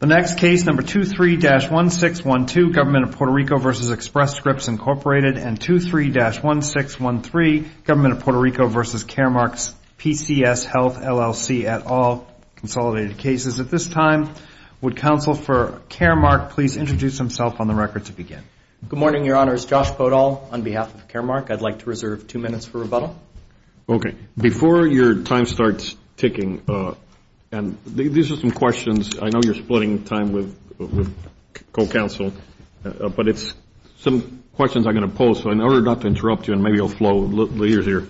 The next case, number 23-1612, Government of Puerto Rico v. Express Scripts, Incorporated, and 23-1613, Government of Puerto Rico v. Caremark's PCS Health, LLC, et al., consolidated cases. At this time, would counsel for Caremark please introduce himself on the record to begin? Good morning, Your Honors. Josh Podol on behalf of Caremark. I'd like to reserve two minutes for rebuttal. Okay. Before your time starts ticking, and these are some questions. I know you're splitting time with co-counsel, but it's some questions I'm going to pose. So in order not to interrupt you, and maybe it'll flow a little easier,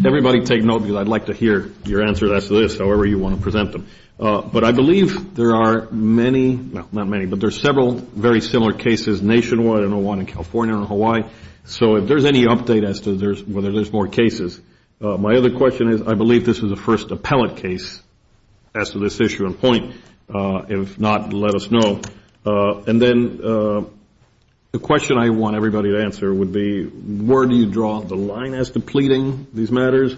everybody take note, because I'd like to hear your answer. That's this, however you want to present them. But I believe there are many, not many, but there are several very similar cases nationwide. I know one in California and Hawaii. So if there's any update as to whether there's more cases. My other question is, I believe this is the first appellate case as to this issue in point. If not, let us know. And then the question I want everybody to answer would be, where do you draw the line as to pleading these matters?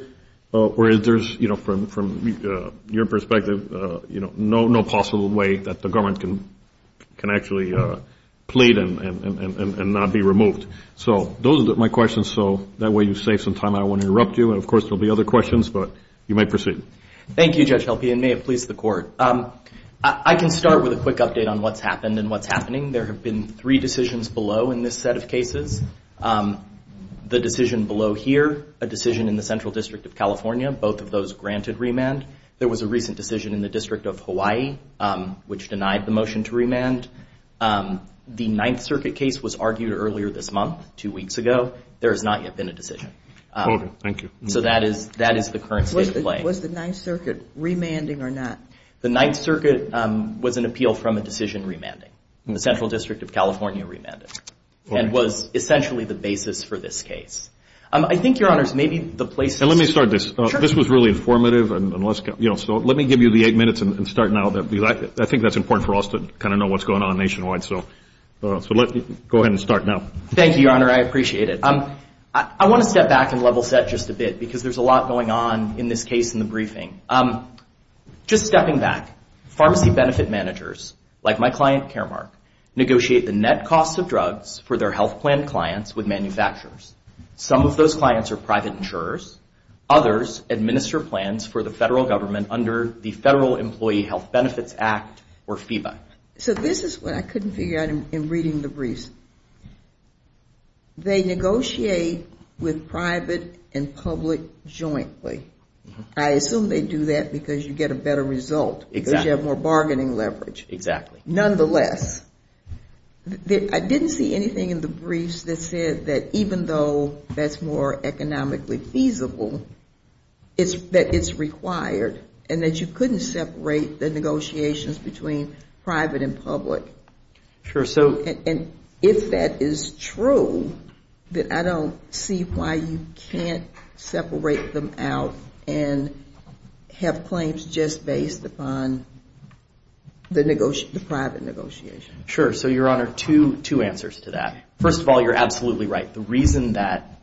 Or is there, from your perspective, no possible way that the government can actually plead and not be removed? So those are my questions. So that way you save some time. I don't want to interrupt you. And of course, there'll be other questions, but you may proceed. Thank you, Judge Helpe, and may it please the Court. I can start with a quick update on what's happened and what's happening. There have been three decisions below in this set of cases. The decision below here, a decision in the Central District of California, both of those granted remand. There was a recent decision in the District of Hawaii, which denied the motion to remand. The Ninth Circuit case was argued earlier this month, two weeks ago. There has not yet been a decision. Was the Ninth Circuit remanding or not? The Ninth Circuit was an appeal from a decision remanding. The Central District of California remanded. And was essentially the basis for this case. Let me start this. This was really informative. I think that's important for us to kind of know what's going on nationwide. Thank you, Your Honor. I appreciate it. I want to step back and level set just a bit, because there's a lot going on in this case in the briefing. Just stepping back, pharmacy benefit managers, like my client Caremark, negotiate the net cost of drugs for their health plan clients with manufacturers. Some of those clients are private insurers. Others administer plans for the federal government under the Federal Employee Health Benefits Act, or FEBA. So this is what I couldn't figure out in reading the briefs. They negotiate with private and public jointly. I assume they do that because you get a better result, because you have more bargaining leverage. Exactly. Nonetheless, I didn't see anything in the briefs that said that even though that's more economically feasible, that it's required, and that you couldn't separate the negotiations between private and public. And if that is true, then I don't see why you can't separate them out and have claims just based upon the private negotiations. Sure. So, Your Honor, two answers to that. First of all, you're absolutely right. The reason that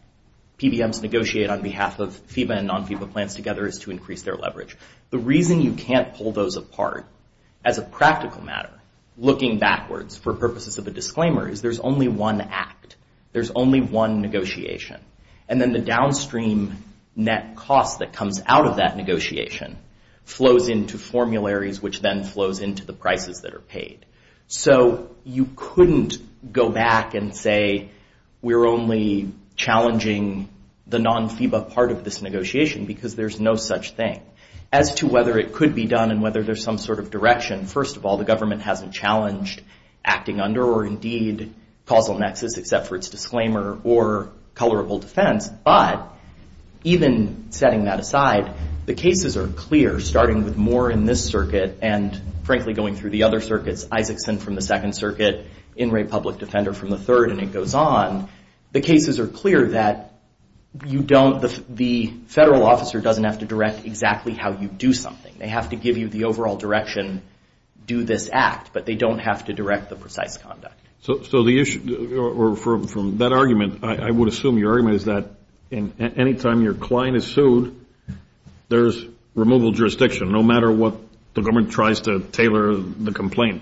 PBMs negotiate on behalf of FEBA and non-FEBA plans together is to increase their leverage. The reason you can't pull those apart, as a practical matter, looking backwards for purposes of a disclaimer, is there's only one act. There's only one negotiation. And then the downstream net cost that comes out of that negotiation flows into formularies, which then flows into the prices that are paid. So you couldn't go back and say, we're only challenging the non-FEBA part of this negotiation, because there's no such thing. As to whether it could be done and whether there's some sort of direction, first of all, the government hasn't challenged acting under, or indeed, causal nexus, except for its disclaimer, or colorable defense. But even setting that aside, the cases are clear, starting with Moore in this circuit and, frankly, going through the other circuits, Isaacson from the Second Circuit, In re Public Defender from the Third, and it goes on. The cases are clear that the federal officer doesn't have to direct exactly how you do something. They have to give you the overall direction, do this act, but they don't have to direct the precise conduct. So the issue, or from that argument, I would assume your argument is that any time your client is sued, there's removal of jurisdiction, no matter what the government tries to tailor the complaint.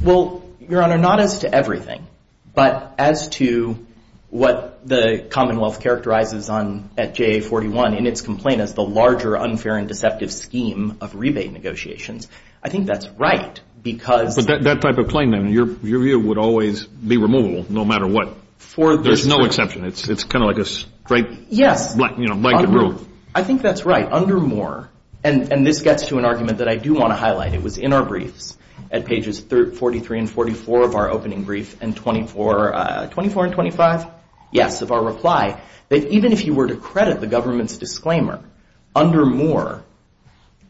Well, Your Honor, not as to everything, but as to what the Commonwealth characterizes at JA-41 in its complaint as the larger unfair and deceptive scheme of rebate negotiations. I think that's right, because... But that type of claim, Your Honor, your view would always be removable, no matter what. There's no exception. It's kind of like a straight blanket rule. I think that's right. Under Moore, and this gets to an argument that I do want to highlight. It was in our briefs at pages 43 and 44 of our opening brief, and 24 and 25, yes, of our reply, that even if you were to credit the government's disclaimer, under Moore,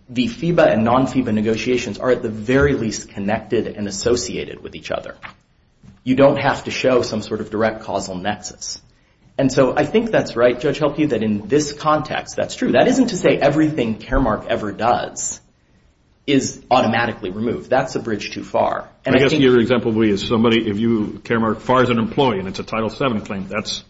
the FEBA and non-FEBA negotiations are at the very least connected and associated with each other. You don't have to show some sort of direct causal nexus. And so I think that's right, Judge Helke, that in this context, that's true. That isn't to say everything Caremark ever does is automatically removed. That's a bridge too far. I guess your example is somebody, if you, Caremark, fires an employee and it's a Title VII claim, that's...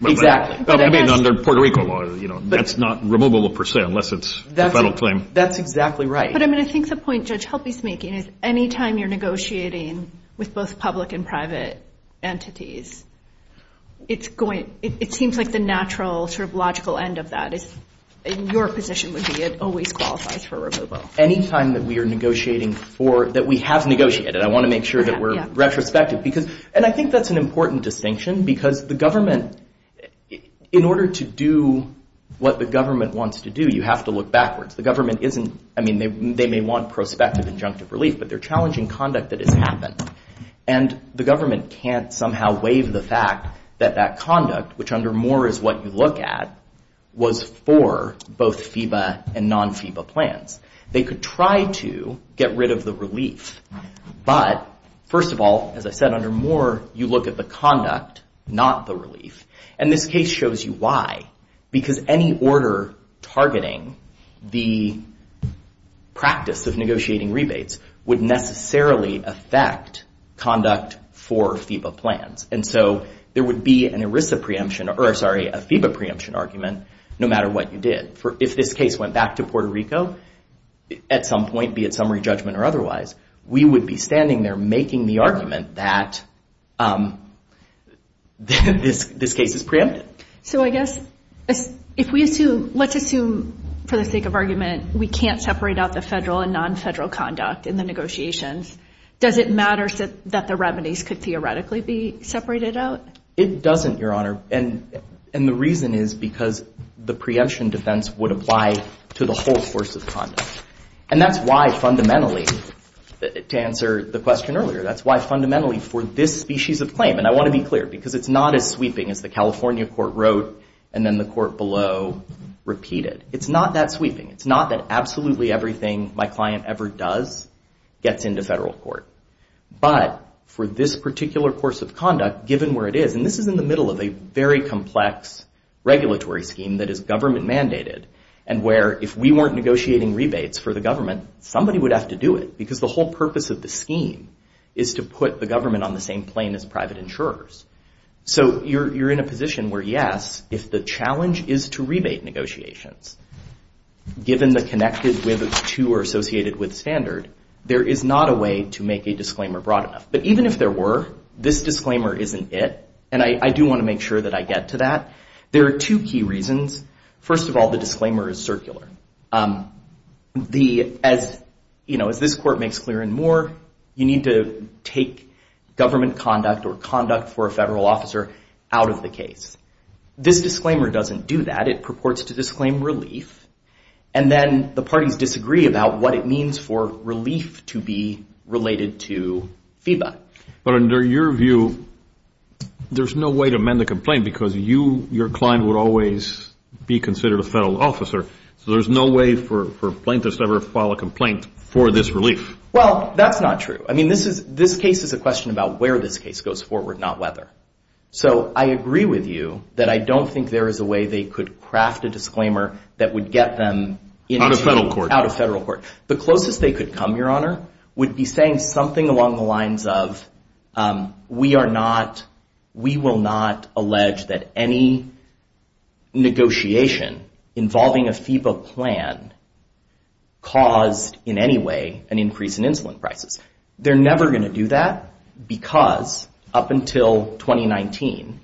Exactly. I mean, under Puerto Rico law, that's not removable, per se, unless it's a federal claim. That's exactly right. But I mean, I think the point Judge Helke's making is anytime you're negotiating with both public and private entities, it seems like the natural sort of logical end of that is, in your position, would be it always qualifies for removal. Anytime that we are negotiating for, that we have negotiated, I want to make sure that we're retrospective. And I think that's an important distinction, because the government, in order to do what the government wants to do, you have to look backwards. I mean, they may want prospective injunctive relief, but they're challenging conduct that has happened. And the government can't somehow waive the fact that that conduct, which under Moore is what you look at, was for both FEBA and non-FEBA plans. They could try to get rid of the relief. But first of all, as I said, under Moore, you look at the conduct, not the relief. And this case shows you why, because any order targeting the practice of negotiating rebates would necessarily affect conduct for FEBA plans. And so there would be a FEBA preemption argument no matter what you did. If this case went back to Puerto Rico at some point, be it summary judgment or otherwise, we would be standing there making the argument that this case is preempted. So I guess if we assume, let's assume, for the sake of argument, we can't separate out the federal and non-federal conduct in the negotiations, does it matter that the revenues could theoretically be separated out? It doesn't, Your Honor, and the reason is because the preemption defense would apply to the whole course of conduct. And that's why fundamentally, to answer the question earlier, that's why fundamentally for this species of claim, and I want to be clear, because it's not as sweeping as the California court wrote and then the court below repeated. It's not that sweeping. It's not that absolutely everything my client ever does gets into federal court. But for this particular course of conduct, given where it is, and this is in the middle of a very complex regulatory scheme that is government mandated and where if we weren't negotiating rebates for the government, somebody would have to do it because the whole purpose of the scheme is to put the government on the same plane as private insurers. So you're in a position where, yes, if the challenge is to rebate negotiations, given the connected with, to, or associated with standard, there is not a way to make a disclaimer broad enough. But even if there were, this disclaimer isn't it, and I do want to make sure that I get to that. There are two key reasons. First of all, the disclaimer is circular. As this court makes clear and more, you need to take government conduct or conduct for a federal officer out of the case. This disclaimer doesn't do that. It purports to disclaim relief, and then the parties disagree about what it means for relief to be related to FIBA. But under your view, there's no way to amend the complaint because you, your client, would always be considered a federal officer. So there's no way for plaintiffs to ever file a complaint for this relief. Well, that's not true. I mean, this case is a question about where this case goes forward, not whether. So I agree with you that I don't think there is a way they could craft a disclaimer that would get them out of federal court. The closest they could come, Your Honor, would be saying something along the lines of, we are not, we will not allege that any negotiation involving a FIBA plan caused in any way an increase in insulin prices. They're never going to do that because up until 2019,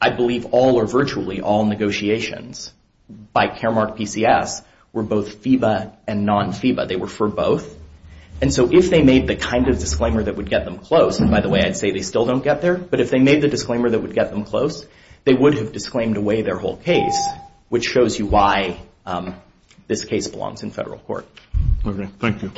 I believe all or virtually all negotiations by Caremark PCS were both FIBA and non-FIBA. They were for both. And so if they made the kind of disclaimer that would get them close, and by the way, I'd say they still don't get there, but if they made the disclaimer that would get them close, they would have disclaimed away their whole case, which shows you why this case belongs in federal court. Okay, thank you.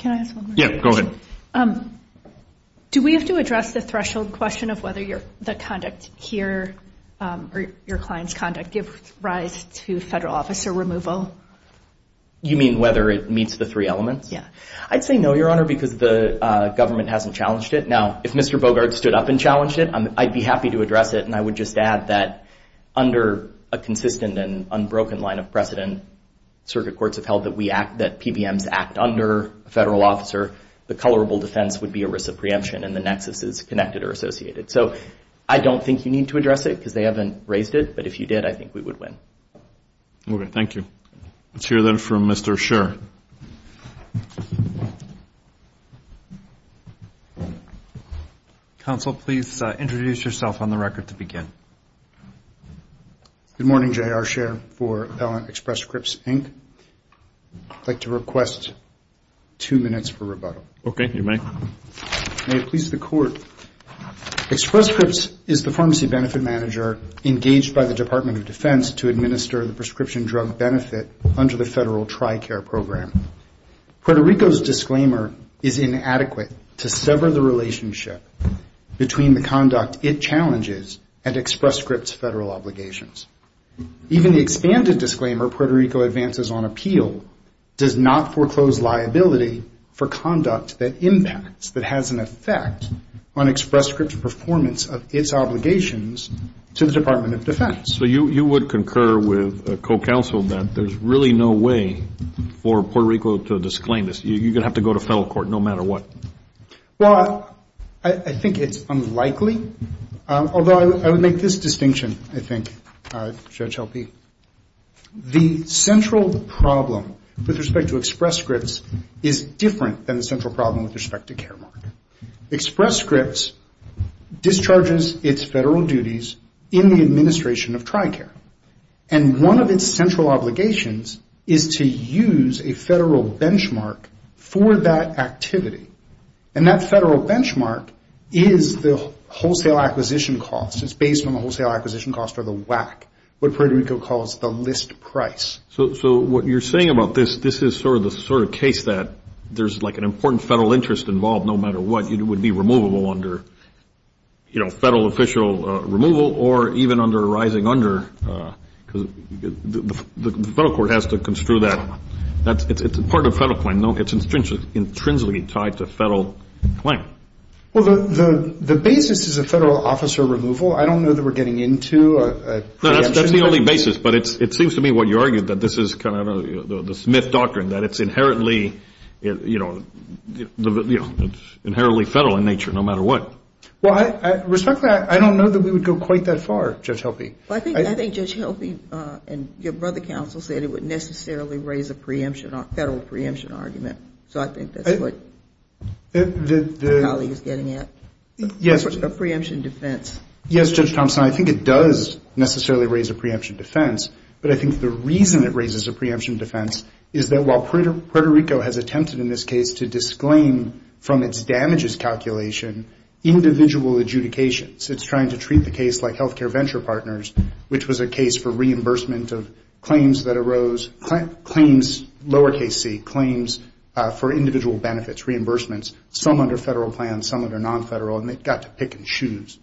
Do we have to address the threshold question of whether the conduct here, or your client's conduct, give rise to federal officer removal? You mean whether it meets the three elements? I'd say no, Your Honor, because the government hasn't challenged it. Now, if Mr. Bogart stood up and challenged it, I'd be happy to address it, and I would just add that under a consistent and unbroken line of precedent, circuit courts have held that PBMs act under a federal officer. The colorable defense would be a risk of preemption, and the nexus is connected or associated. So I don't think you need to address it because they haven't raised it, but if you did, I think we would win. Okay, thank you. Let's hear, then, from Mr. Scherer. Counsel, please introduce yourself on the record to begin. Good morning, J.R. Scherer for Pellant Express Scripts, Inc. I'd like to request two minutes for rebuttal. Okay, you may. May it please the Court, Express Scripts is the pharmacy benefit manager engaged by the Department of Defense to administer the prescription drug benefit under the federal TRICARE program. Puerto Rico's disclaimer is inadequate to sever the relationship between the conduct it challenges and Express Scripts' federal obligations. Even the expanded disclaimer, Puerto Rico Advances on Appeal, does not foreclose liability for conduct that impacts, that has an effect on Express Scripts' performance of its obligations to the Department of Defense. So you would concur with a co-counsel that there's really no way for Puerto Rico to disclaim this. You're going to have to go to federal court no matter what. Well, I think it's unlikely, although I would make this distinction, I think, Judge Helpe. The central problem with respect to Express Scripts is different than the central problem. Express Scripts discharges its federal duties in the administration of TRICARE. And one of its central obligations is to use a federal benchmark for that activity. And that federal benchmark is the wholesale acquisition cost. It's based on the wholesale acquisition cost or the WAC, what Puerto Rico calls the list price. So what you're saying about this, this is sort of the sort of case that there's like an important federal interest involved no matter what, it would be removable under, you know, federal official removal or even under a rising under. Because the federal court has to construe that. It's part of a federal claim. No, it's intrinsically tied to a federal claim. Well, the basis is a federal officer removal. I don't know that we're getting into a preemption. No, that's the only basis. But it seems to me what you argued, that this is kind of the Smith doctrine, that it's inherently, you know, inherently federal in nature no matter what. Well, respectfully, I don't know that we would go quite that far, Judge Helpe. I think Judge Helpe and your brother counsel said it would necessarily raise a federal preemption argument. So I think that's what my colleague is getting at, a preemption defense. Yes, Judge Thompson, I think it does necessarily raise a preemption defense. But I think the reason it raises a preemption defense is that while Puerto Rico has attempted in this case to disclaim from its damages calculation individual adjudications, it's trying to treat the case like healthcare venture partners, which was a case for reimbursement of claims that arose, claims lower case C, claims for individual benefits, reimbursements, some under federal plans, some under non-federal, and they got to pick and choose.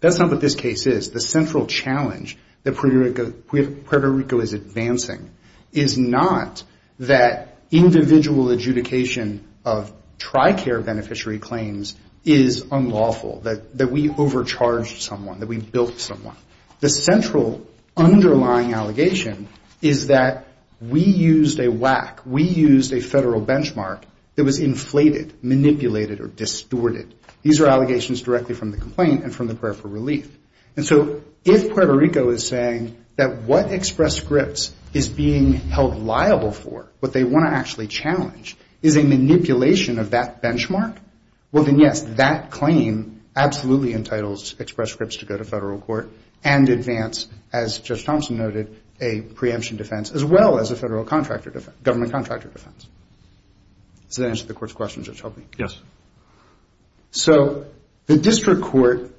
That's not what this case is. The central challenge that Puerto Rico is advancing is not that individual adjudication of TRICARE beneficiary claims is unlawful, that we overcharged someone, that we built someone. The central underlying allegation is that we used a WAC. We used a federal benchmark that was inflated, manipulated or distorted. These are allegations directly from the complaint and from the prayer for relief. And so if Puerto Rico is saying that what Express Scripts is being held liable for, what they want to actually challenge, is a manipulation of that benchmark, well, then, yes, that claim absolutely entitles Express Scripts to go to federal court and advance, as Judge Thompson noted, a preemption defense as well as a federal contractor defense, government contractor defense. Does that answer the court's question, Judge Helby? Yes. So the district court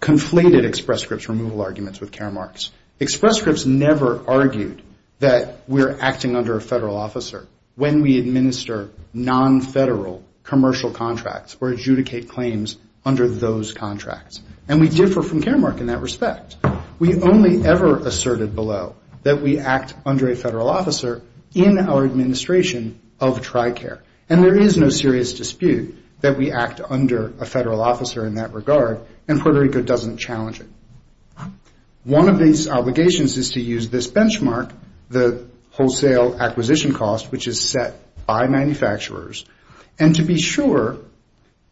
conflated Express Scripts removal arguments with Care Marks. Express Scripts never argued that we're acting under a federal officer when we administer non-federal commercial contracts or adjudicate claims under those contracts. And we differ from Care Mark in that respect. We only ever asserted below that we act under a federal officer in our administration of TRICARE. And there is no serious dispute that we act under a federal officer in that regard, and Puerto Rico doesn't challenge it. One of these obligations is to use this benchmark, the wholesale acquisition cost, which is set by manufacturers, and to be sure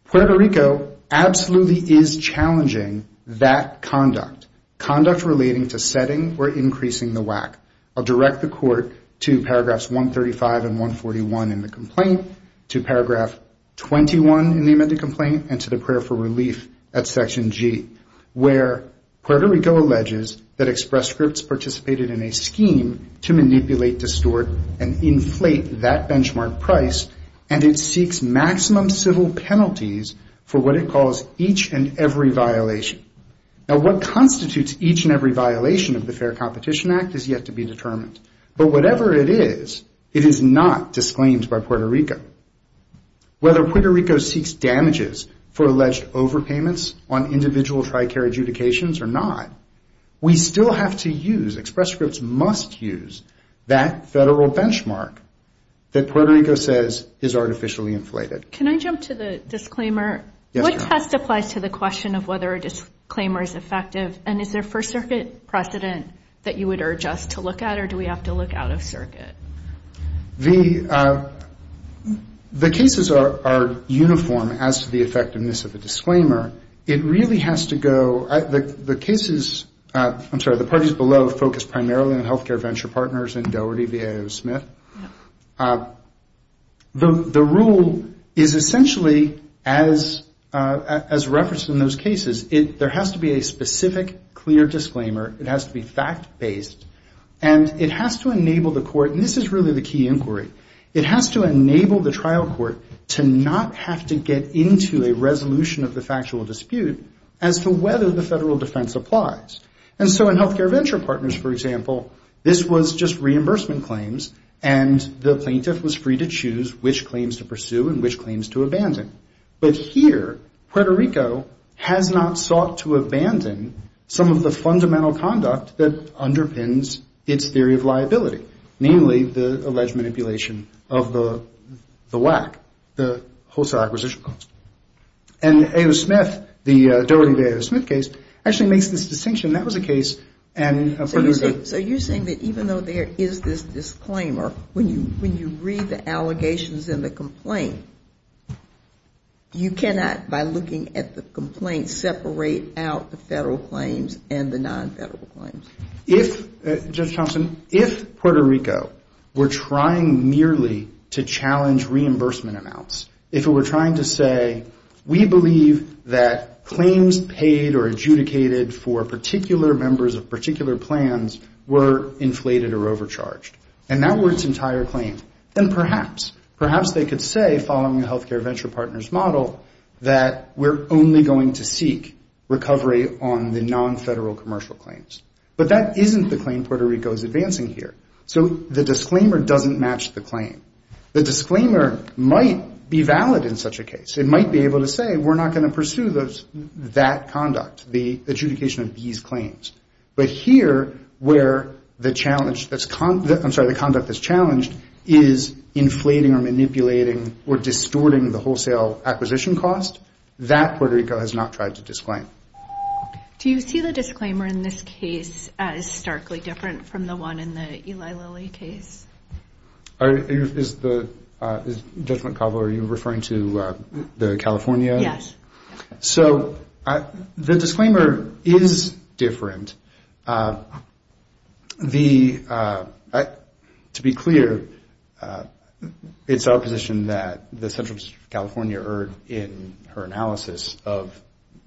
Puerto Rico absolutely is challenging that conduct. Conduct relating to setting or increasing the WAC. I'll direct the court to paragraphs 135 and 141 in the complaint, to paragraph 21 in the amended complaint, and to the prayer for relief at section G, where Puerto Rico alleges that Express Scripts participated in a scheme to manipulate, distort, and inflate that benchmark price, and it seeks maximum civil penalties for what it calls each and every violation. Now, what constitutes each and every violation of the Fair Competition Act is yet to be determined. But whatever it is, it is not disclaimed by Puerto Rico. Whether Puerto Rico seeks damages for alleged overpayments on individual TRICARE adjudications or not, we still have to use, Express Scripts must use, that federal benchmark that Puerto Rico says is artificially inflated. Can I jump to the disclaimer? What test applies to the question of whether a disclaimer is effective, and is there first circuit precedent that you would urge us to look at, or do we have to look out of circuit? The cases are uniform as to the effectiveness of a disclaimer. It really has to go, the cases, I'm sorry, the parties below focus primarily on healthcare venture partners and Doherty, VAO, Smith. The rule is essentially as referenced in those cases, there has to be a specific clear disclaimer, it has to be fact-based, and it has to enable the court, and this is really the key inquiry, it has to enable the trial court to not have to get into a resolution of the factual dispute as to whether the federal defense applies. And so in healthcare venture partners, for example, this was just reimbursement claims, and the plaintiff was free to choose which claims to pursue and which claims to abandon. But here, Puerto Rico has not sought to abandon some of the fundamental conduct that underpins its theory of liability, namely the alleged manipulation of the WAC, the wholesale acquisition cost. And A.O. Smith, the Doherty, VAO, Smith case, actually makes this distinction, that was a case, and Puerto Rico So you're saying that even though there is this disclaimer, when you read the allegations in the complaint, you cannot, by looking at the complaint, separate out the federal claims and the non-federal claims? If, Judge Thompson, if Puerto Rico were trying merely to challenge reimbursement amounts, if it were trying to say that we believe that claims paid or adjudicated for particular members of particular plans were inflated or overcharged, and that were its entire claim, then perhaps, perhaps they could say, following the healthcare venture partners model, that we're only going to seek recovery on the non-federal commercial claims. But that isn't the claim Puerto Rico is advancing here. So the disclaimer doesn't match the claim. The disclaimer might be valid in such a case. It might be able to say, we're not going to pursue that conduct, the adjudication of these claims. But here, where the challenge that's, I'm sorry, the conduct that's challenged is inflating or manipulating or distorting the wholesale acquisition cost, that Puerto Rico has not tried to disclaim. Do you see the disclaimer in this case as starkly different from the one in the Eli Lilly case? Is the, Judge McCauley, are you referring to the California? Yes. So the disclaimer is different. The, to be clear, it's our position that the central district of California erred in her analysis of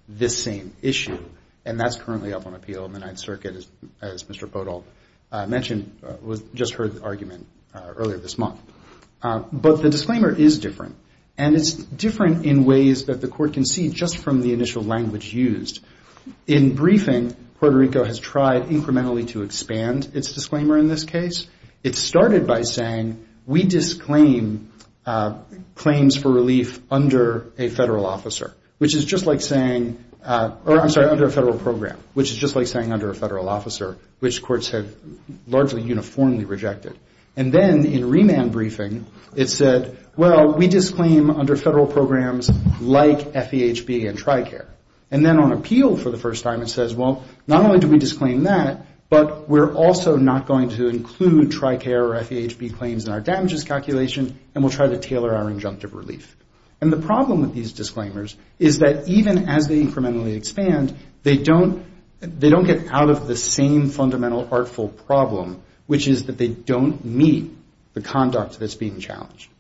this same issue, and that's currently up on appeal in the Ninth Circuit, as Mr. Podol mentioned, just heard the argument earlier this month. But the disclaimer is different, and it's different in ways that the court can see just from the initial language used. In briefing, Puerto Rico has tried incrementally to expand its disclaimer in this case. It started by saying, we disclaim claims for relief under a federal officer. Which is just like saying, or I'm sorry, under a federal program, which is just like saying under a federal officer, which courts have largely uniformly rejected. And then in remand briefing, it said, well, we disclaim under federal programs like FEHB and TRICARE. And then on appeal for the first time, it says, well, not only do we disclaim that, but we're also not going to include TRICARE or FEHB claims in our damages calculation, and we'll try to tailor our injunctive relief. And the problem with these disclaimers is that even as they incrementally expand, they don't get out of the same fundamental artful problem, which is that they don't meet the conduct that's being challenged.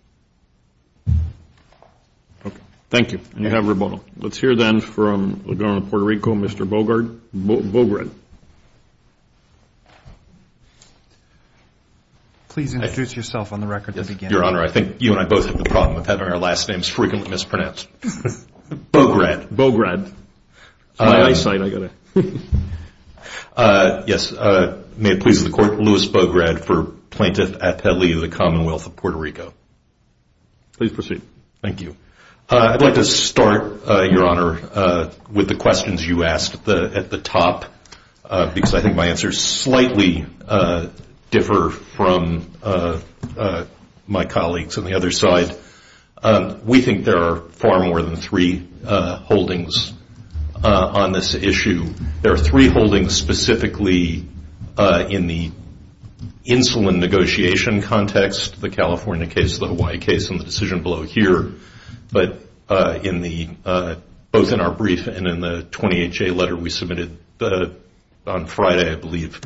Thank you. And you have rebuttal. Let's hear then from the Governor of Puerto Rico, Mr. Bogart. Please introduce yourself on the record at the beginning. Your Honor, I think you and I both have a problem with having our last names frequently mispronounced. Bogart. Bogart. Yes, may it please the Court, Louis Bogart for Plaintiff Atelier of the Commonwealth of Puerto Rico. Please proceed. Thank you. I'd like to start, Your Honor, with the questions you asked at the top, because I think my answers slightly differ from my colleagues on the other side. We think there are far more than three holdings on this issue. There are three holdings specifically in the insulin negotiation context, the California case, the Hawaii case, and the decision below here. But both in our brief and in the 20HA letter we submitted on Friday, I believe,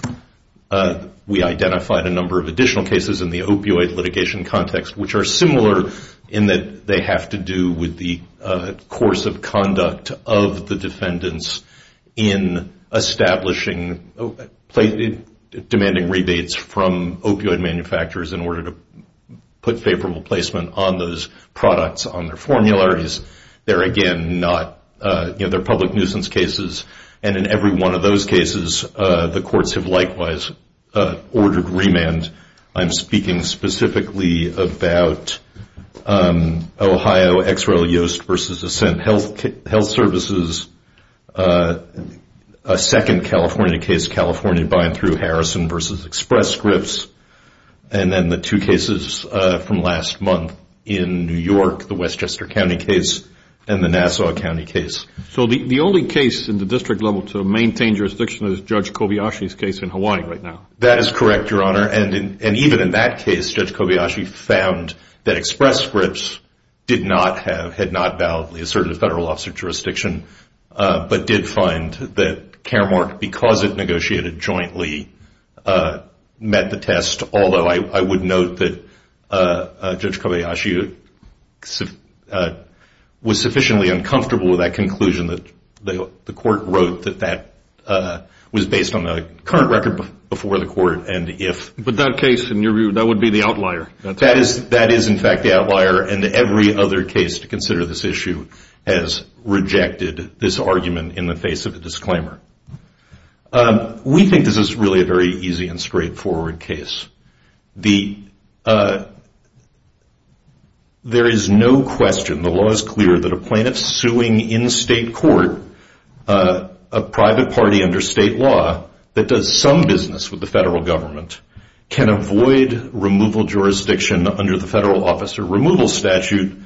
we identified a number of additional cases in the opioid litigation context, which are similar in that they have to do with the course of conduct of the defendants in establishing, demanding rebates from opioid manufacturers in order to put favorable placement on those products, on their formularies. They're, again, not, you know, they're public nuisance cases, and in every one of those cases the courts have likewise ordered remand. I'm speaking specifically about Ohio, Ex Rel Yoast v. Ascent Health Services, a second California case, California Buy and Threw Harrison v. Express Scripps, and then the two cases from last month in New York, the Westchester County case and the Nassau County case. So the only case in the district level to maintain jurisdiction is Judge Kobayashi's case in Hawaii right now? That is correct, Your Honor, and even in that case Judge Kobayashi found that Express Scripps did not have, had not validly asserted a federal officer jurisdiction, but did find that Caremark, because it negotiated jointly, met the test, although I would note that Judge Kobayashi was sufficiently uncomfortable with that conclusion that the court wrote that that was based on the current record before the court, and if... he did this argument in the face of a disclaimer. We think this is really a very easy and straightforward case. There is no question, the law is clear, that a plaintiff suing in state court a private party under state law that does some business with the federal government can avoid removal jurisdiction under the federal officer removal statute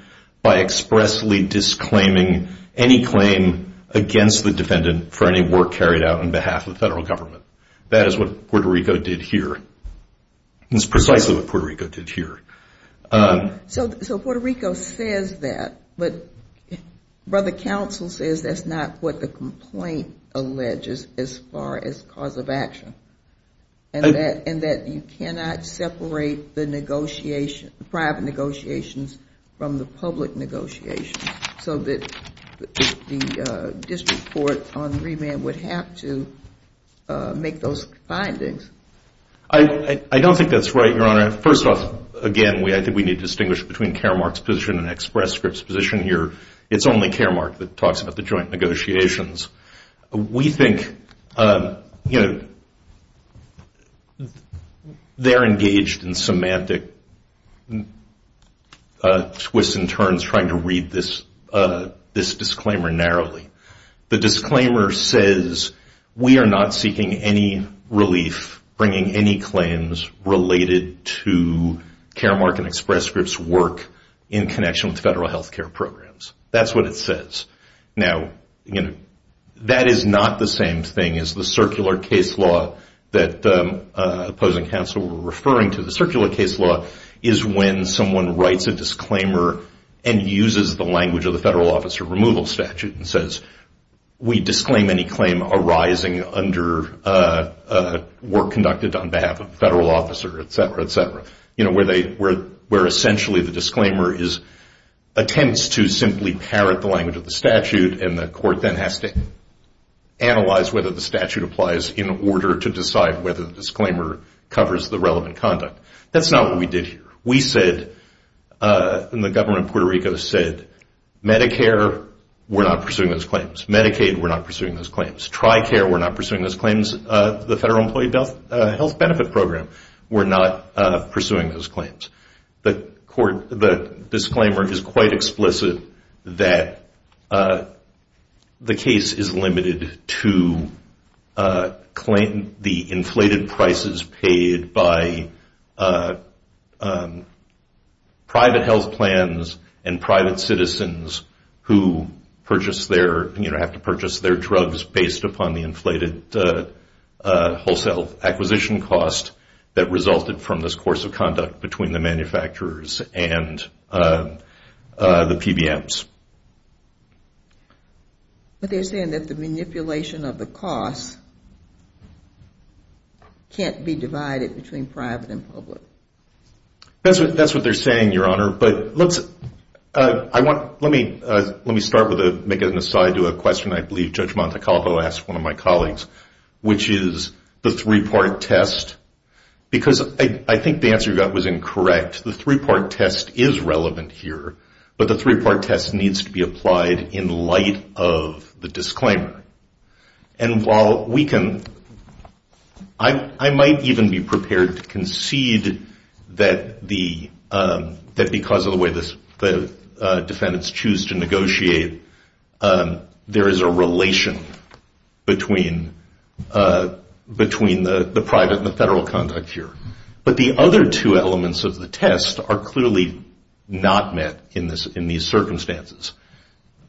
by expressly disclaiming any claim against the defendant for any work carried out on behalf of the federal government. That is what Puerto Rico did here. So Puerto Rico says that, but Brother Counsel says that is not what the complaint alleges as far as cause of action, and that you cannot separate the negotiation, the private negotiations from the public negotiations, so that the district court on remand would have to make those findings. I don't think that's right, Your Honor. First off, again, I think we need to distinguish between Caremark's position and Express Script's position here. It's only Caremark that talks about the joint negotiations. We think they're engaged in semantic twists and turns trying to read this case, this disclaimer, narrowly. The disclaimer says we are not seeking any relief bringing any claims related to Caremark and Express Script's work in connection with federal health care programs. That's what it says. Now, that is not the same thing as the circular case law that opposing counsel were referring to. The circular case law is when someone writes a disclaimer and uses the language of the federal officer removal statute and says we disclaim any claim arising under work conducted on behalf of the federal officer, et cetera, et cetera, where essentially the disclaimer attempts to simply parrot the language of the statute, and the court then has to analyze whether the statute applies in order to decide whether the disclaimer covers the relevant conduct. That's not what we did here. We said, and the government of Puerto Rico said, Medicare, we're not pursuing those claims. Medicaid, we're not pursuing those claims. Tricare, we're not pursuing those claims. The federal employee health benefit program, we're not pursuing those claims. The disclaimer is quite explicit that the case is limited to the inflated prices paid by private health plans and private citizens who have to purchase their drugs based upon the inflated wholesale acquisition cost that resulted from this course of conduct between the manufacturers and the PBMs. But they're saying that the manipulation of the cost can't be divided between private and public. That's what they're saying, Your Honor. Let me start with making an aside to a question I believe Judge Montecalvo asked one of my colleagues, which is the three-part test, because I think the answer you got was incorrect. The three-part test is relevant here, but the three-part test needs to be applied in light of the disclaimer. And while we can, I might even be prepared to concede that because of the way the defendants choose to negotiate, there is a relation between the private and the federal conduct here. But the other two elements of the test are clearly not met in these circumstances.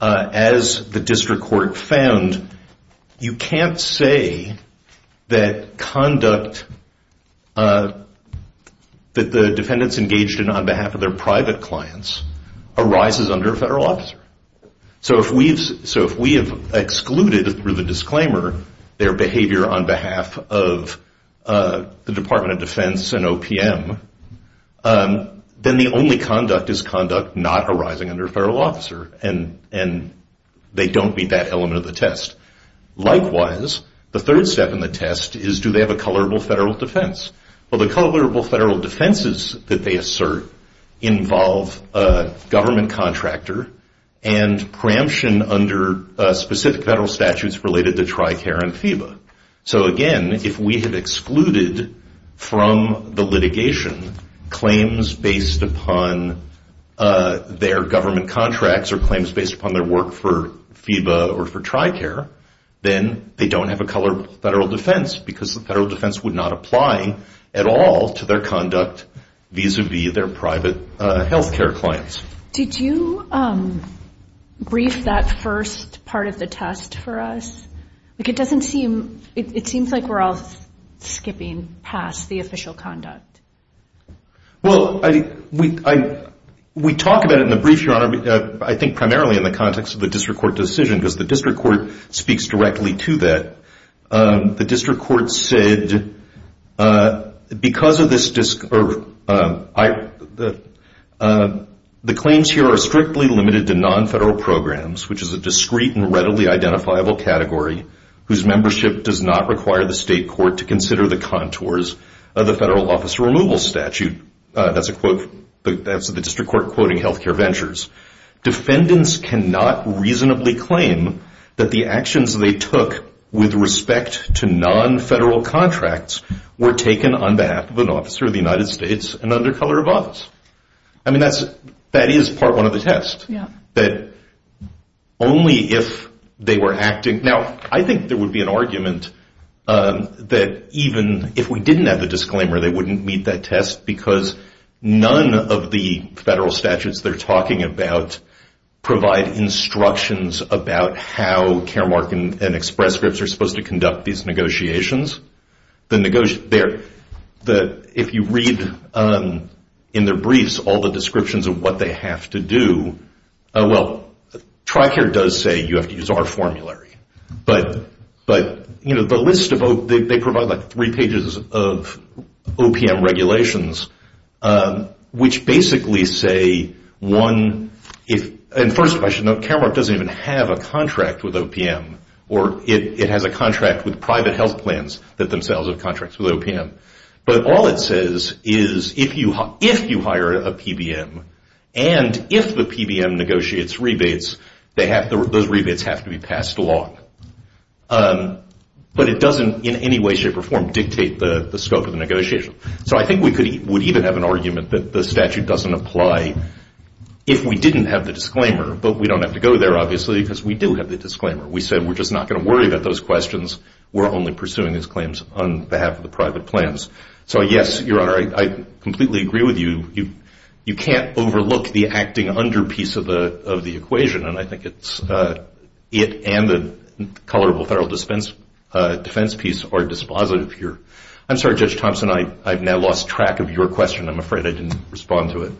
As the district court found, you can't say that conduct that the defendants engaged in on behalf of their private clients arises under a federal officer. So if we have excluded, through the disclaimer, their behavior on behalf of the Department of Defense and OPM, then the only conduct is conduct not arising under a federal officer, and they don't meet that element of the test. Likewise, the third step in the test is, do they have a colorable federal defense? Well, the colorable federal defenses that they assert involve a government contractor and preemption under specific federal statutes related to TRICARE and FEBA. So again, if we have excluded from the litigation claims based upon their government contracts or claims based upon their work for FEBA or for TRICARE, then they don't have a colorable federal defense because the federal defense would not apply at all to their conduct vis-a-vis their private health care clients. Did you brief that first part of the test for us? It seems like we're all skipping past the official conduct. Well, we talk about it in the brief, Your Honor, I think primarily in the context of the district court decision, because the district court speaks directly to that. The claims here are strictly limited to non-federal programs, which is a discrete and readily identifiable category, whose membership does not require the state court to consider the contours of the federal officer removal statute. That's the district court quoting health care ventures. Defendants cannot reasonably claim that the actions they took with respect to non-federal contracts were taken on behalf of an officer of the United States and under color of office. I mean, that is part one of the test. Now, I think there would be an argument that even if we didn't have the disclaimer, they wouldn't meet that test, because none of the federal statutes they're talking about provide instructions about how Caremark and Express Scripts are supposed to conduct these negotiations. If you read in their briefs all the descriptions of what they have to do, well, TRICARE does say you have to use our formulary, but they provide like three pages of OPM regulations, which basically say one, and first I should note, Caremark doesn't even have a contract with OPM, or it has a contract with private health plans that themselves have contracts with OPM. But all it says is if you hire a PBM, and if the PBM negotiates rebates, those rebates have to be passed along. But it doesn't in any way, shape, or form dictate the scope of the negotiation. So I think we would even have an argument that the statute doesn't apply if we didn't have the disclaimer, but we don't have to go there, obviously, because we do have the disclaimer. We said we're just not going to worry about those questions. We're only pursuing these claims on behalf of the private plans. So yes, Your Honor, I completely agree with you. You can't overlook the acting under piece of the equation, and I think it's it and the color of the federal defense piece are dispositive here. I'm sorry, Judge Thompson, I've now lost track of your question. I'm afraid I didn't respond to it.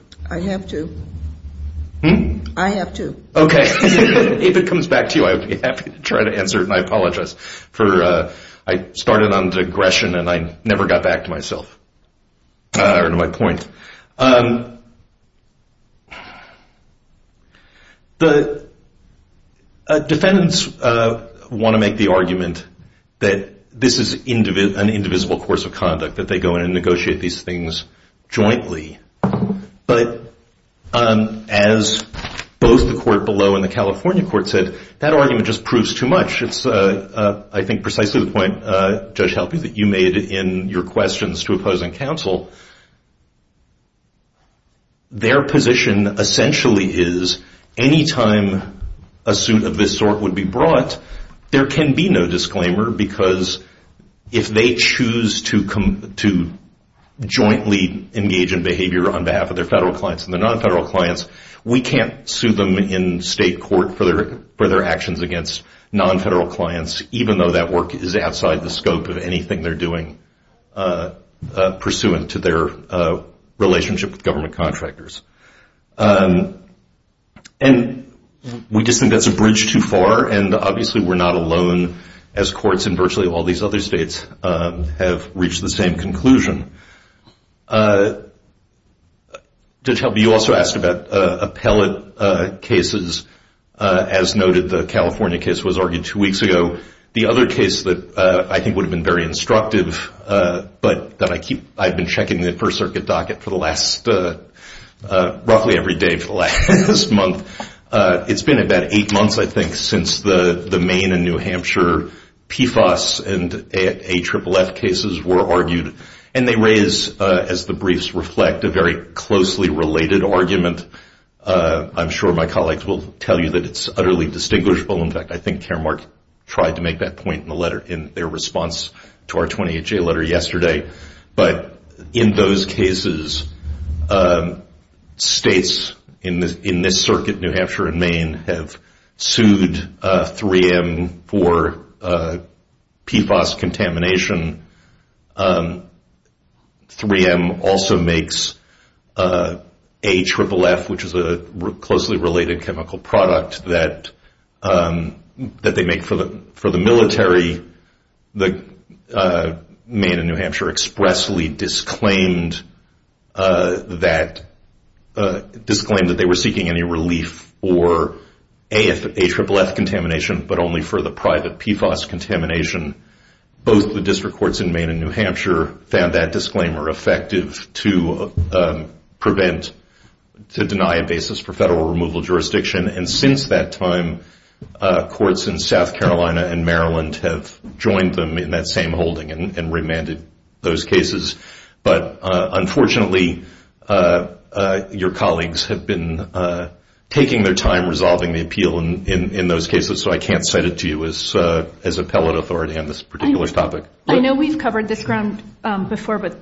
Okay. If it comes back to you, I would be happy to try to answer it, and I apologize. I started on digression, and I never got back to myself or to my point. The defendants want to make the argument that this is an indivisible course of conduct, that they go in and negotiate these things jointly. But as both the court below and the California court said, that argument just proves too much. It's, I think, precisely the point, Judge Halpern, that you made in your questions to opposing counsel. Their position essentially is any time a suit of this sort would be brought, there can be no disclaimer because if they choose to jointly engage in behavior on behalf of their federal clients and their non-federal clients, we can't sue them in state court for their actions against non-federal clients, even though that work is outside the scope of anything they're doing pursuant to their relationship with government contractors. And we just think that's a bridge too far, and obviously we're not alone as courts in virtually all these other states have reached the same conclusion. Judge Halpern, you also asked about appellate cases. As noted, the California case was argued two weeks ago. The other case that I think would have been very instructive, but that I keep, I've been checking the First Circuit docket for the last, roughly every day for the last month. It's been about eight months, I think, since the Maine and New Hampshire PFAS and AFFF cases were argued, and they raise, as the briefs reflect, a very closely related argument. I'm sure my colleagues will tell you that it's utterly distinguishable. In fact, I think Karen Mark tried to make that point in the letter, in their response to our 20HA letter yesterday. But in those cases, states in this circuit, New Hampshire and Maine, have sued 3M for PFAS contamination. 3M also makes AFFF, which is a closely related chemical product that they make for the military. Maine and New Hampshire expressly disclaimed that they were seeking any relief for AFFF contamination, but only for the private PFAS contamination. Both the district courts in Maine and New Hampshire found that disclaimer effective to prevent, to deny a basis for federal removal of jurisdiction. And since that time, courts in South Carolina and Maryland have joined them in that same holding and remanded those cases. But unfortunately, your colleagues have been taking their time in resolving the appeal in those cases, so I can't set it to you as appellate authority on this particular topic. I know we've covered this ground before, but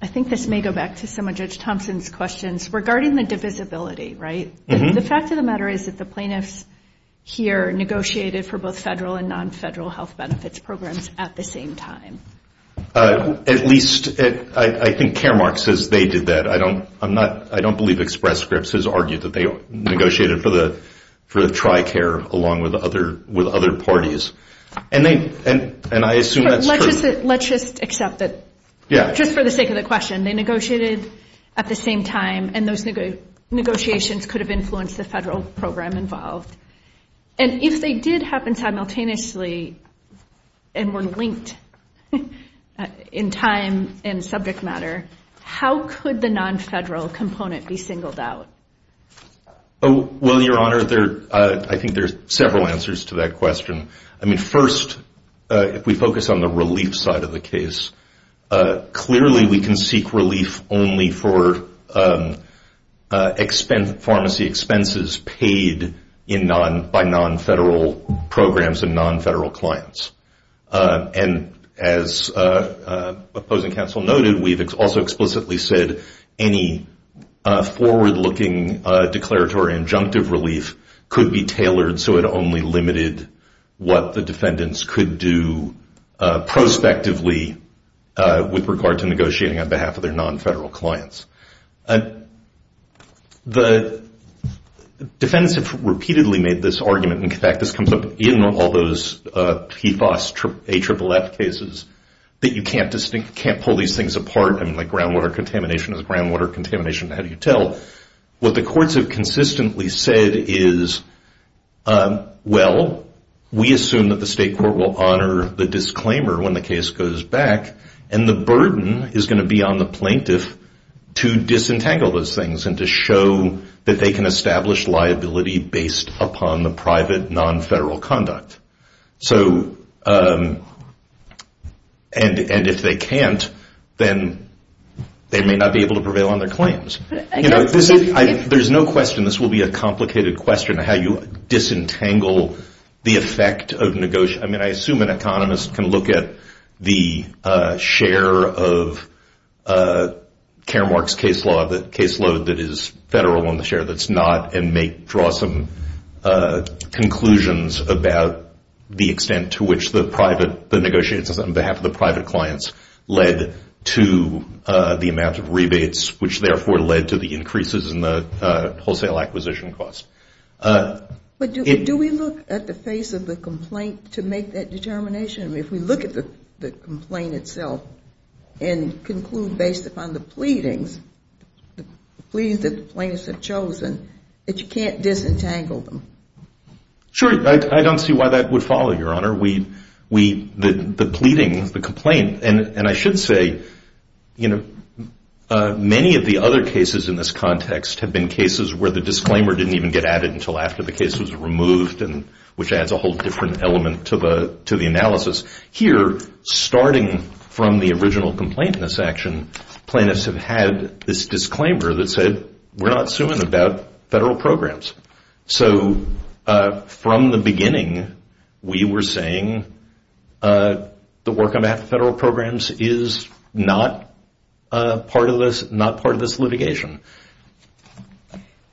I think this may go back to some of Judge Thompson's questions regarding the divisibility, right? The fact of the matter is that the plaintiffs here negotiated for both federal and non-federal health benefits programs at the same time. At least, I think Caremark says they did that. I don't believe Express Scripts has argued that they negotiated for the TRICARE along with other parties. Let's just accept that, just for the sake of the question, they negotiated at the same time and those negotiations could have influenced the federal program involved. And if they did happen simultaneously and were linked in time and subject matter, how could the non-federal component be singled out? Well, Your Honor, I think there are several answers to that question. First, if we focus on the relief side of the case, clearly we can seek relief only for pharmacy expenses paid by non-federal programs and non-federal clients. And as opposing counsel noted, we've also explicitly said any forward-looking declaratory injunctive relief could be tailored so it only limited what the defendants could do prospectively with regard to negotiating on behalf of their non-federal clients. The defendants have repeatedly made this argument and in fact this comes up in all those PFAS, AFFF cases, that you can't pull these things apart, like groundwater contamination is groundwater contamination, how do you tell? What the courts have consistently said is well, we assume that the state court will honor the disclaimer when the case goes back and the burden is going to be on the plaintiff to disentangle those things and to show that they can establish liability based upon the private non-federal conduct. And if they can't, then they may not be able to prevail on their claims. There's no question this will be a complicated question on how you disentangle the effect of negotiation. I mean, I assume an economist can look at the share of Karamark's caseload that is federal on the share that's not and draw some conclusions about the extent to which the negotiations on behalf of the private clients led to the amount of rebates, which therefore led to the increases in the wholesale acquisition costs. Do we look at the face of the complaint to make that determination? I mean, if we look at the complaint itself and conclude based upon the pleadings, the pleadings that the plaintiffs have chosen, that you can't disentangle them? Sure. I don't see why that would follow, Your Honor. The pleading, the complaint, and I should say, you know, many of the other cases in this context have been cases where the disclaimer didn't even get added until after the case was removed, which adds a whole different element to the analysis. Here, starting from the original complaint in this action, plaintiffs have had this disclaimer that said, we're not suing about federal programs. So from the beginning, we were saying the work on behalf of federal programs is not part of this litigation.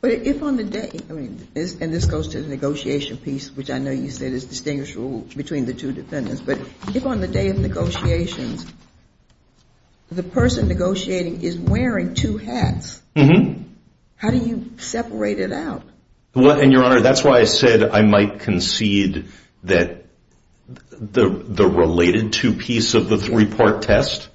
But if on the day, and this goes to the negotiation piece, which I know you said is distinguished between the two defendants, but if on the day of negotiations, the person negotiating is wearing two hats, how do you separate it out? Well, and Your Honor, that's why I said I might concede that the related two-piece of the three-part test,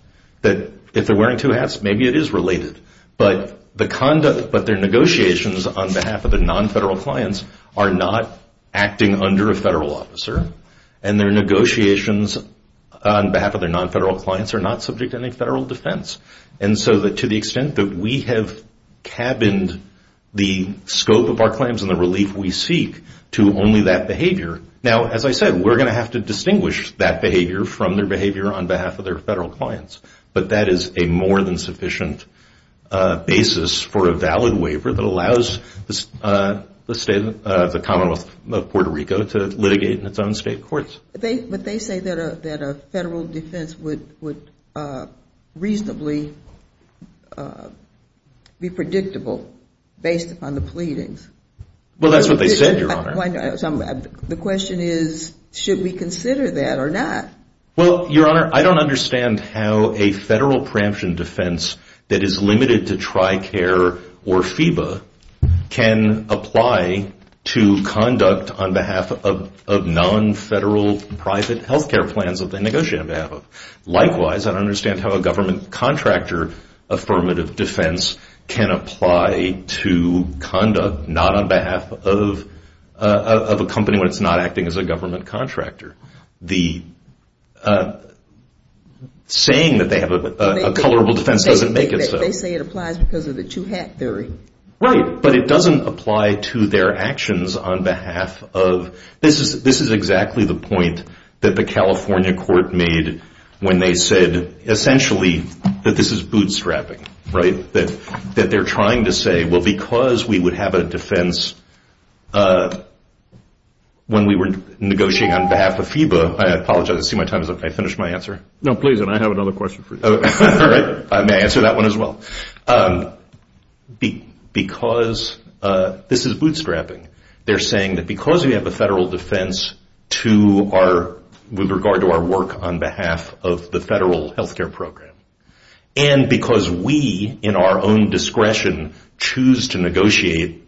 that if they're wearing two hats, maybe it is related, but their negotiations on behalf of the nonfederal clients are not acting under a federal officer, and their negotiations on behalf of their nonfederal clients are not subject to any federal defense. And so to the extent that we have cabined the scope of our claims and the relief we seek to only that behavior, now, as I said, we're going to have to distinguish that behavior from their behavior on behalf of their federal clients. But that is a more than sufficient basis for a valid waiver that allows the Commonwealth of Puerto Rico to litigate in its own state courts. But they say that a federal defense would reasonably be predictable based upon the pleadings. Well, that's what they said, Your Honor. The question is, should we consider that or not? Well, Your Honor, I don't understand how a federal preemption defense that is limited to TRICARE or FEBA can apply to conduct on behalf of nonfederal private health care plans that they negotiate on behalf of. Likewise, I don't understand how a government contractor affirmative defense can apply to conduct not on behalf of a company when it's not acting as a government contractor. The saying that they have a colorable defense doesn't make it so. They say it applies because of the two-hat theory. Right. But it doesn't apply to their actions on behalf of, this is exactly the point that the California court made when they said essentially that this is bootstrapping, right? That they're trying to say, well, because we have a defense when we were negotiating on behalf of FEBA, I apologize, I see my time is up. Can I finish my answer? No, please, and I have another question for you. May I answer that one as well? Because this is bootstrapping. They're saying that because we have a federal defense with regard to our work on behalf of the federal health care program, and because we, in our own discretion, choose to negotiate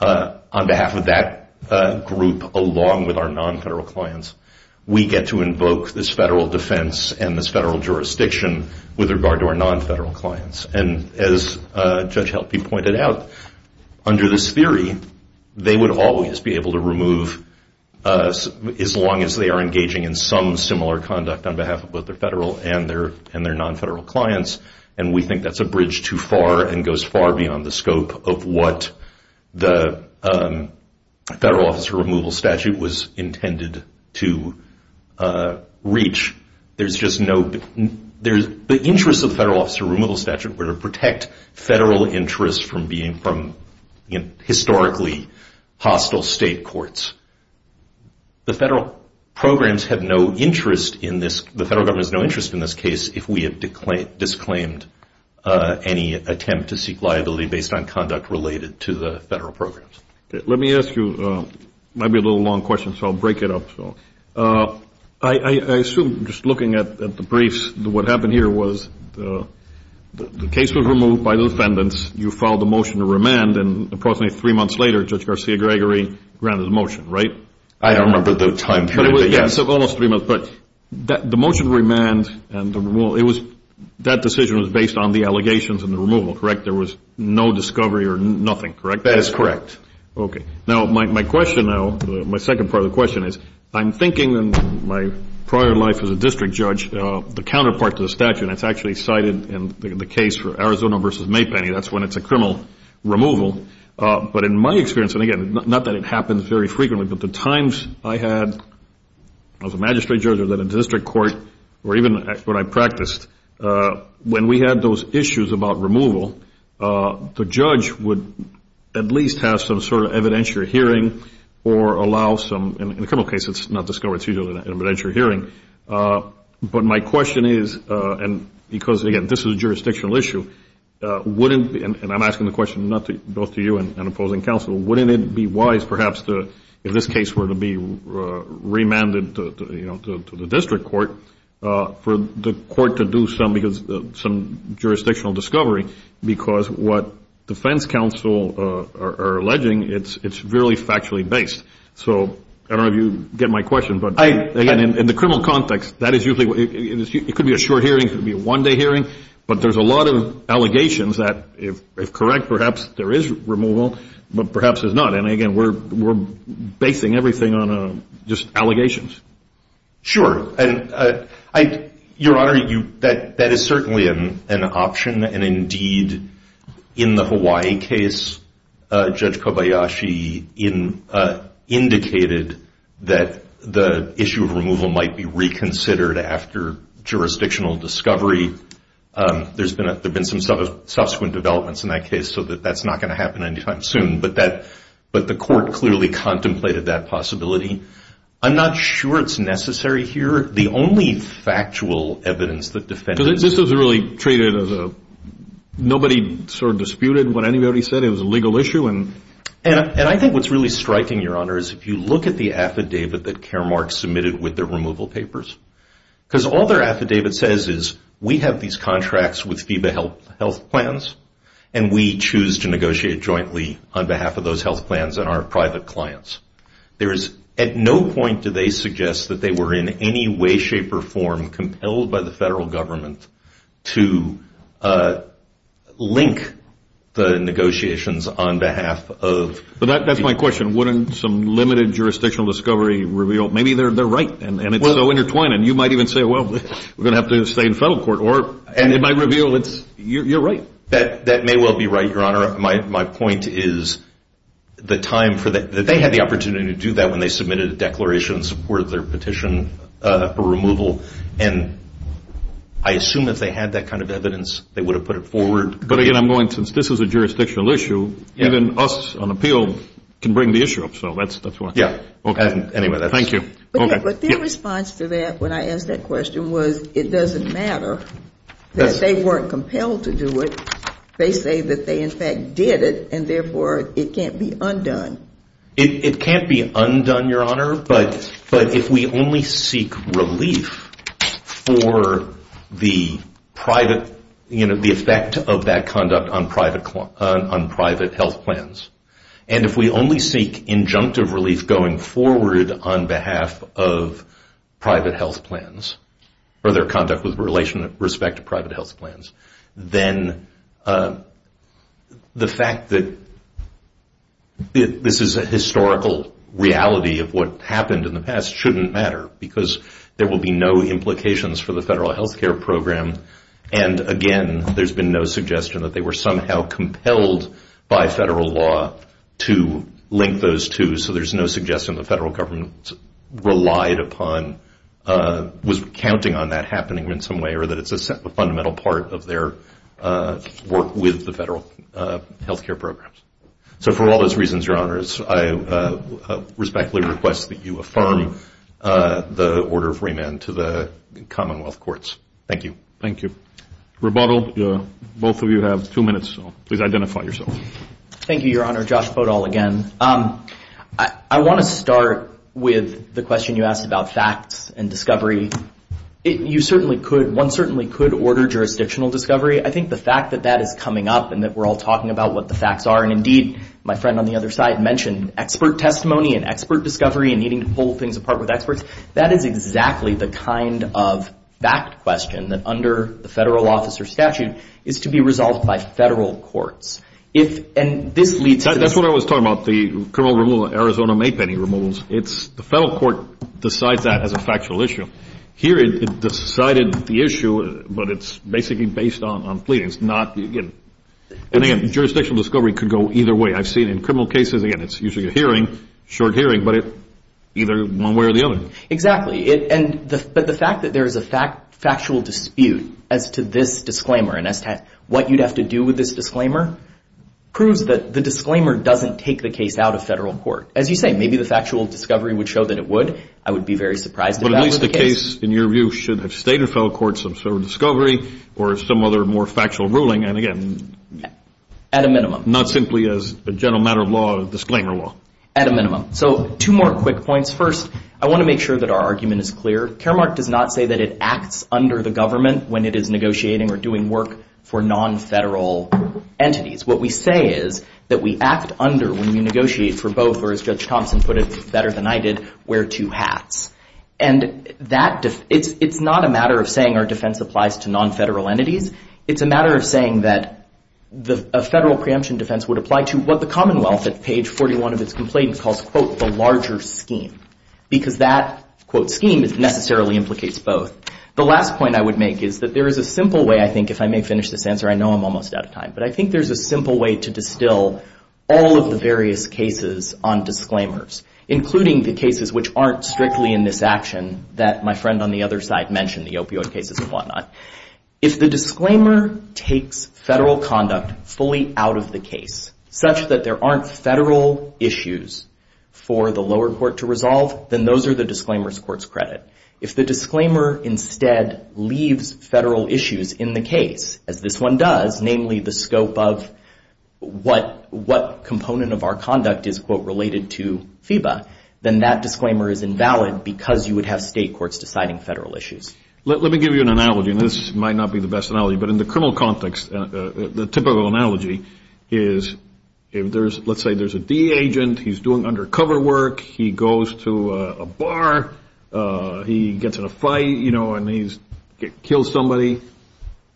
on behalf of that group along with our non-federal clients, we get to invoke this federal defense and this federal jurisdiction with regard to our non-federal clients. And as Judge Helpe pointed out, under this theory, they would always be able to remove, as long as they are engaging in some similar conduct on behalf of both their federal and their non-federal clients, and we think that's a bridge too far and goes far beyond the scope of what the federal officer removal statute was intended to reach. There's just no, the interests of the federal officer removal statute were to protect federal interests from historically hostile state courts. The federal programs have no interest in this, the federal government has no interest in this case if we have disclaimed any attempt to seek liability based on conduct related to the federal programs. Let me ask you, might be a little long question, so I'll break it up. I assume, just looking at the briefs, what happened here was the case was removed by the defendants, you filed a motion to remand, and approximately three months later, Judge Garcia-Gregory granted the motion, right? I don't remember the time period. Yes, almost three months, but the motion to remand and the removal, that decision was based on the allegations and the removal, correct? There was no discovery or nothing, correct? That is correct. Okay. Now, my question now, my second part of the question is, I'm thinking in my prior life as a district judge, the counterpart to the statute, and it's actually cited in the case for Arizona v. Maypenny, that's when it's a criminal removal, but in my experience, and again, not that it happens very frequently, but the times I had as a magistrate judge or in a district court, or even when I practiced, when we had those issues about removal, the judge would at least have some sort of evidentiary hearing or allow some, in the criminal case, it's not discovered, it's usually an evidentiary hearing. But my question is, and because, again, this is a jurisdictional issue, wouldn't, and I'm asking the question both to you and opposing counsel, wouldn't it be wise, perhaps, if this case were to be remanded to the district court, for the court to do some jurisdictional discovery, because what defense counsel are alleging, it's really factually based. So I don't know if you get my question, but again, in the criminal context, that is usually, it could be a short hearing, it could be a one-day hearing, but there's a lot of allegations that, if correct, perhaps there is removal, but perhaps there's not. And again, we're basing everything on just allegations. Sure. Your Honor, that is certainly an option, and indeed, in the Hawaii case, Judge Kobayashi indicated that the issue of removal might be reconsidered after jurisdictional discovery. There's been some subsequent developments in that case, so that's not going to happen anytime soon, but the court clearly contemplated that possibility. I'm not sure it's necessary here. The only factual evidence that defense Because this was really treated as a, nobody sort of disputed what anybody said, it was a legal issue, and I think what's really striking, Your Honor, is if you look at the affidavit that Caremark submitted with the removal papers, because all their affidavit says is, we have these contracts with FEBA health plans, and we choose to negotiate jointly on behalf of those health plans and our private clients. There is, at no point do they suggest that they were in any way, shape, or form compelled by the federal government to link the negotiations on behalf of But that's my question. Wouldn't some limited jurisdictional discovery reveal, maybe they're right, and it's so intertwined, and you might even say, well, we're going to have to stay in federal court, or it might reveal it's, you're right. That may well be right, Your Honor. My point is the time for that, that they had the opportunity to do that when they submitted a declaration in support of their petition for removal, and I assume if they had that kind of evidence, they would have put it forward. But again, I'm going, since this is a jurisdictional issue, even us on appeal can bring the issue up. So that's why. Yeah. Okay. Thank you. But their response to that, when I asked that question, was it doesn't matter that they weren't compelled to do it. They say that they in fact did it, and therefore it can't be undone. It can't be undone, Your Honor, but if we only seek relief for the effect of that conduct on private health plans, and if we only seek injunctive relief going forward on behalf of private health plans, or their conduct with respect to private health plans, then the fact that this is a historical reality of what happened in the past shouldn't matter, because there will be no implications for the federal health care program, and again, there's been no suggestion that they were somehow compelled by federal law to link those two, so there's no suggestion the federal government relied upon, was counting on that happening in some way, or that it's a fundamental part of their work with the federal health care programs. So for all those reasons, Your Honors, I respectfully request that you affirm the order of remand to the Commonwealth Courts. Thank you. Thank you. Rebuttal. Both of you have two minutes, so please identify yourself. Thank you, Your Honor. Josh Podol again. I want to start with the question you asked about facts and discovery. One certainly could order jurisdictional discovery. I think the fact that that is coming up and that we're all talking about what the facts are, and indeed, my friend on the other side mentioned expert testimony and expert discovery and needing to pull things apart with experts, that is exactly the kind of fact question that under the federal officer statute is to be resolved by federal courts. And this leads to this. That's what I was talking about, the criminal removal of Arizona Maypenny removals. The federal court decides that as a factual issue. Here it decided the issue, but it's basically based on pleadings, not again. And again, jurisdictional discovery could go either way. I've seen in criminal cases, again, it's usually a hearing, short hearing, but either one way or the other. Exactly. But the fact that there is a factual dispute as to this disclaimer and as to what you'd have to do with this disclaimer proves that the disclaimer doesn't take the case out of federal court. As you say, maybe the factual discovery would show that it would. I would be very surprised if that were the case. But at least the case, in your view, should have stayed in federal courts of federal discovery or some other more factual ruling. And again, at a minimum. Not simply as a general matter of law or disclaimer law. At a minimum. So two more quick points. First, I want to make sure that our argument is clear. Caremark does not say that it acts under the government when it is negotiating or doing work for nonfederal entities. What we say is that we act under when we negotiate for both, or as Judge Thompson put it better than I did, wear two hats. And it's not a matter of saying our defense applies to nonfederal entities. It's a matter of saying that a federal preemption defense would apply to what the Commonwealth at page 41 of its complaint calls, quote, the larger scheme. Because that, quote, scheme necessarily implicates both. The last point I would make is that there is a simple way, I think, if I may finish this answer. I know I'm almost out of time. But I think there's a simple way to distill all of the various cases on disclaimers. Including the cases which aren't strictly in this action that my friend on the other side mentioned. The opioid cases and whatnot. If the disclaimer takes federal conduct fully out of the case, such that there aren't federal issues for the lower court to resolve, then those are the disclaimer's court's credit. If the disclaimer instead leaves federal issues in the case, as this one does, namely the scope of what component of our conduct is, quote, related to FEBA, then that disclaimer is invalid because you would have state courts deciding federal issues. Let me give you an analogy. And this might not be the best analogy. But in the criminal context, the typical analogy is, let's say there's a D agent. He's doing undercover work. He goes to a bar. He gets in a fight. And he kills somebody.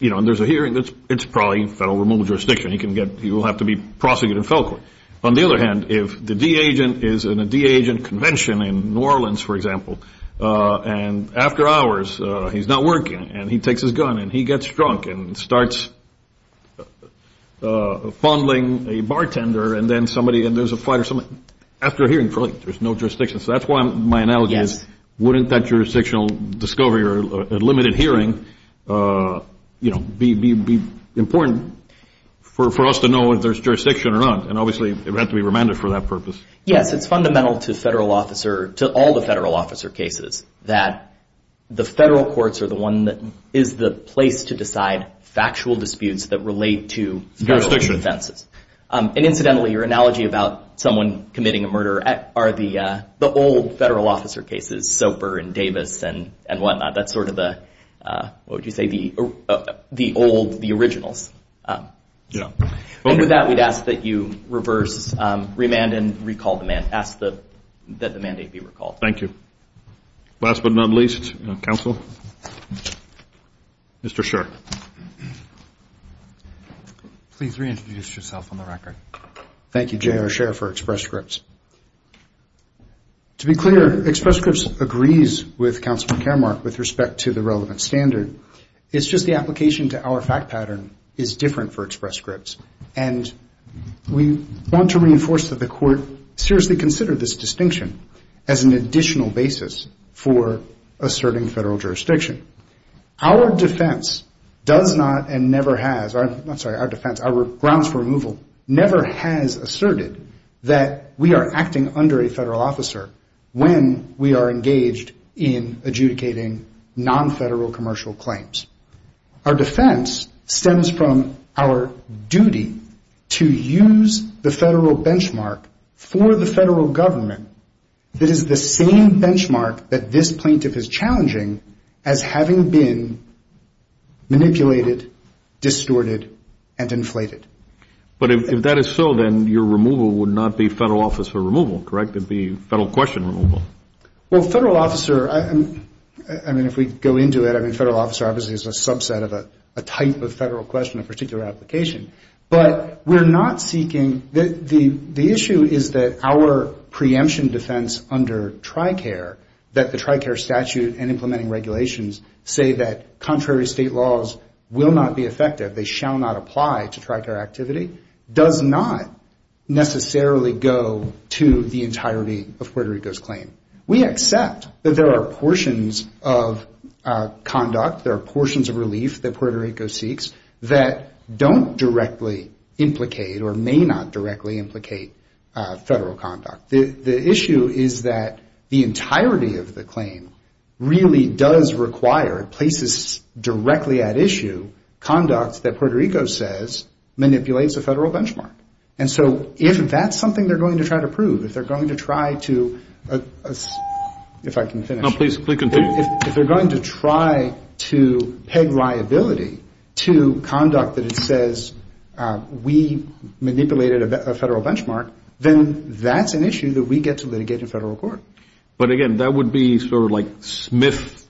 And there's a hearing. It's probably federal removal jurisdiction. He will have to be prosecuted in federal court. On the other hand, if the D agent is in a D agent convention in New Orleans, for example, and after hours he's not working and he takes his gun and he gets drunk and starts fondling a bartender and then somebody, and there's a fight or something, after a hearing there's no jurisdiction. So that's why my analogy is, wouldn't that jurisdictional discovery or limited hearing, you know, be important for us to know if there's jurisdiction or not? And obviously it would have to be remanded for that purpose. Yes, it's fundamental to federal officer, to all the federal officer cases, that the federal courts are the one that is the place to decide factual disputes that relate to federal offenses. And incidentally, your analogy about someone committing a murder are the old federal officer cases, Soper and Davis and whatnot, that's sort of the, what would you say, the old, the originals. And with that, we'd ask that you reverse, remand and recall the mandate, ask that the mandate be recalled. Thank you. Last but not least, counsel, Mr. Scher. Please reintroduce yourself on the record. Thank you, J.R. Scher for Express Scripts. To be clear, Express Scripts agrees with Counselor Caremark with respect to the relevant standard. It's just the application to our fact pattern is different for Express Scripts. And we want to reinforce that the court seriously considered this distinction as an additional basis for asserting federal jurisdiction. Our defense does not and never has, I'm sorry, our defense, our grounds for removal never has asserted that we are acting under a federal officer when we are engaged in adjudicating non-federal commercial claims. Our defense stems from our duty to use the federal benchmark for the federal government that is the same benchmark that this plaintiff is challenging as having been manipulated, distorted and inflated. But if that is so, then your removal would not be federal officer removal, correct? It would be federal question removal. Well, federal officer, I mean, if we go into it, I mean, federal officer obviously is a subset of a type of federal question, a particular application. But we're not seeking, the issue is that our preemption defense under TRICARE, that the TRICARE statute and implementing regulations say that contrary state laws will not be effective, they shall not apply to TRICARE activity, does not necessarily go to the entirety of Puerto Rico's claim. We accept that there are portions of conduct, there are portions of relief that Puerto Rico seeks that don't directly implicate or may not directly implicate federal conduct. The issue is that the entirety of the claim really does require places directly at issue conduct that Puerto Rico says manipulates a federal benchmark. And so if that's something they're going to try to prove, if they're going to try to, if I can finish. If they're going to try to peg liability to conduct that it says we manipulated a federal benchmark, then that's an issue that we get to litigate in federal court. But again, that would be sort of like Smith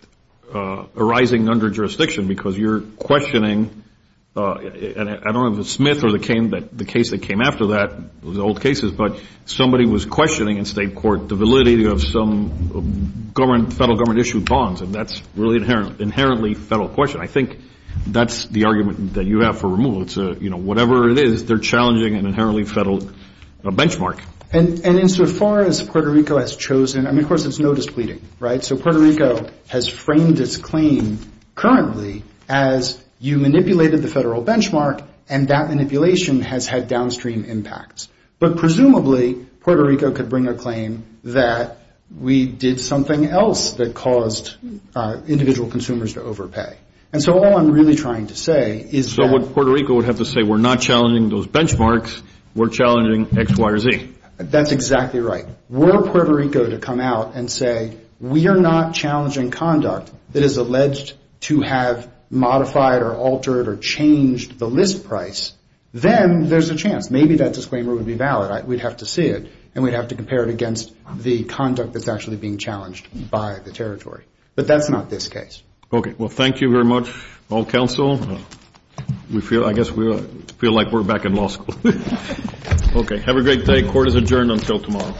arising under jurisdiction, because you're questioning, and I don't know if it's Smith or the case that came after that, those old cases, but somebody was questioning in state court the validity of some federal government issued bonds, and that's really inherently federal question. I think that's the argument that you have for removal. It's a, you know, whatever it is, they're challenging an inherently federal benchmark. And insofar as Puerto Rico has chosen, I mean, of course it's no displeasing, right? So Puerto Rico has framed its claim currently as you manipulated the federal benchmark, and that manipulation has had downstream impacts. But presumably Puerto Rico could bring a claim that we did something else that caused individual consumers to overpay. And so all I'm really trying to say is that... So what Puerto Rico would have to say, we're not challenging those benchmarks, we're challenging X, Y, or Z. That's exactly right. Were Puerto Rico to come out and say we are not challenging conduct that is alleged to have modified or altered or changed the list price, then there's a chance. Maybe that disclaimer would be valid. We'd have to see it, and we'd have to compare it against the conduct that's actually being challenged by the territory. But that's not this case. Well, thank you very much, all counsel. I guess we feel like we're back in law school. Okay, have a great day. Court is adjourned until tomorrow.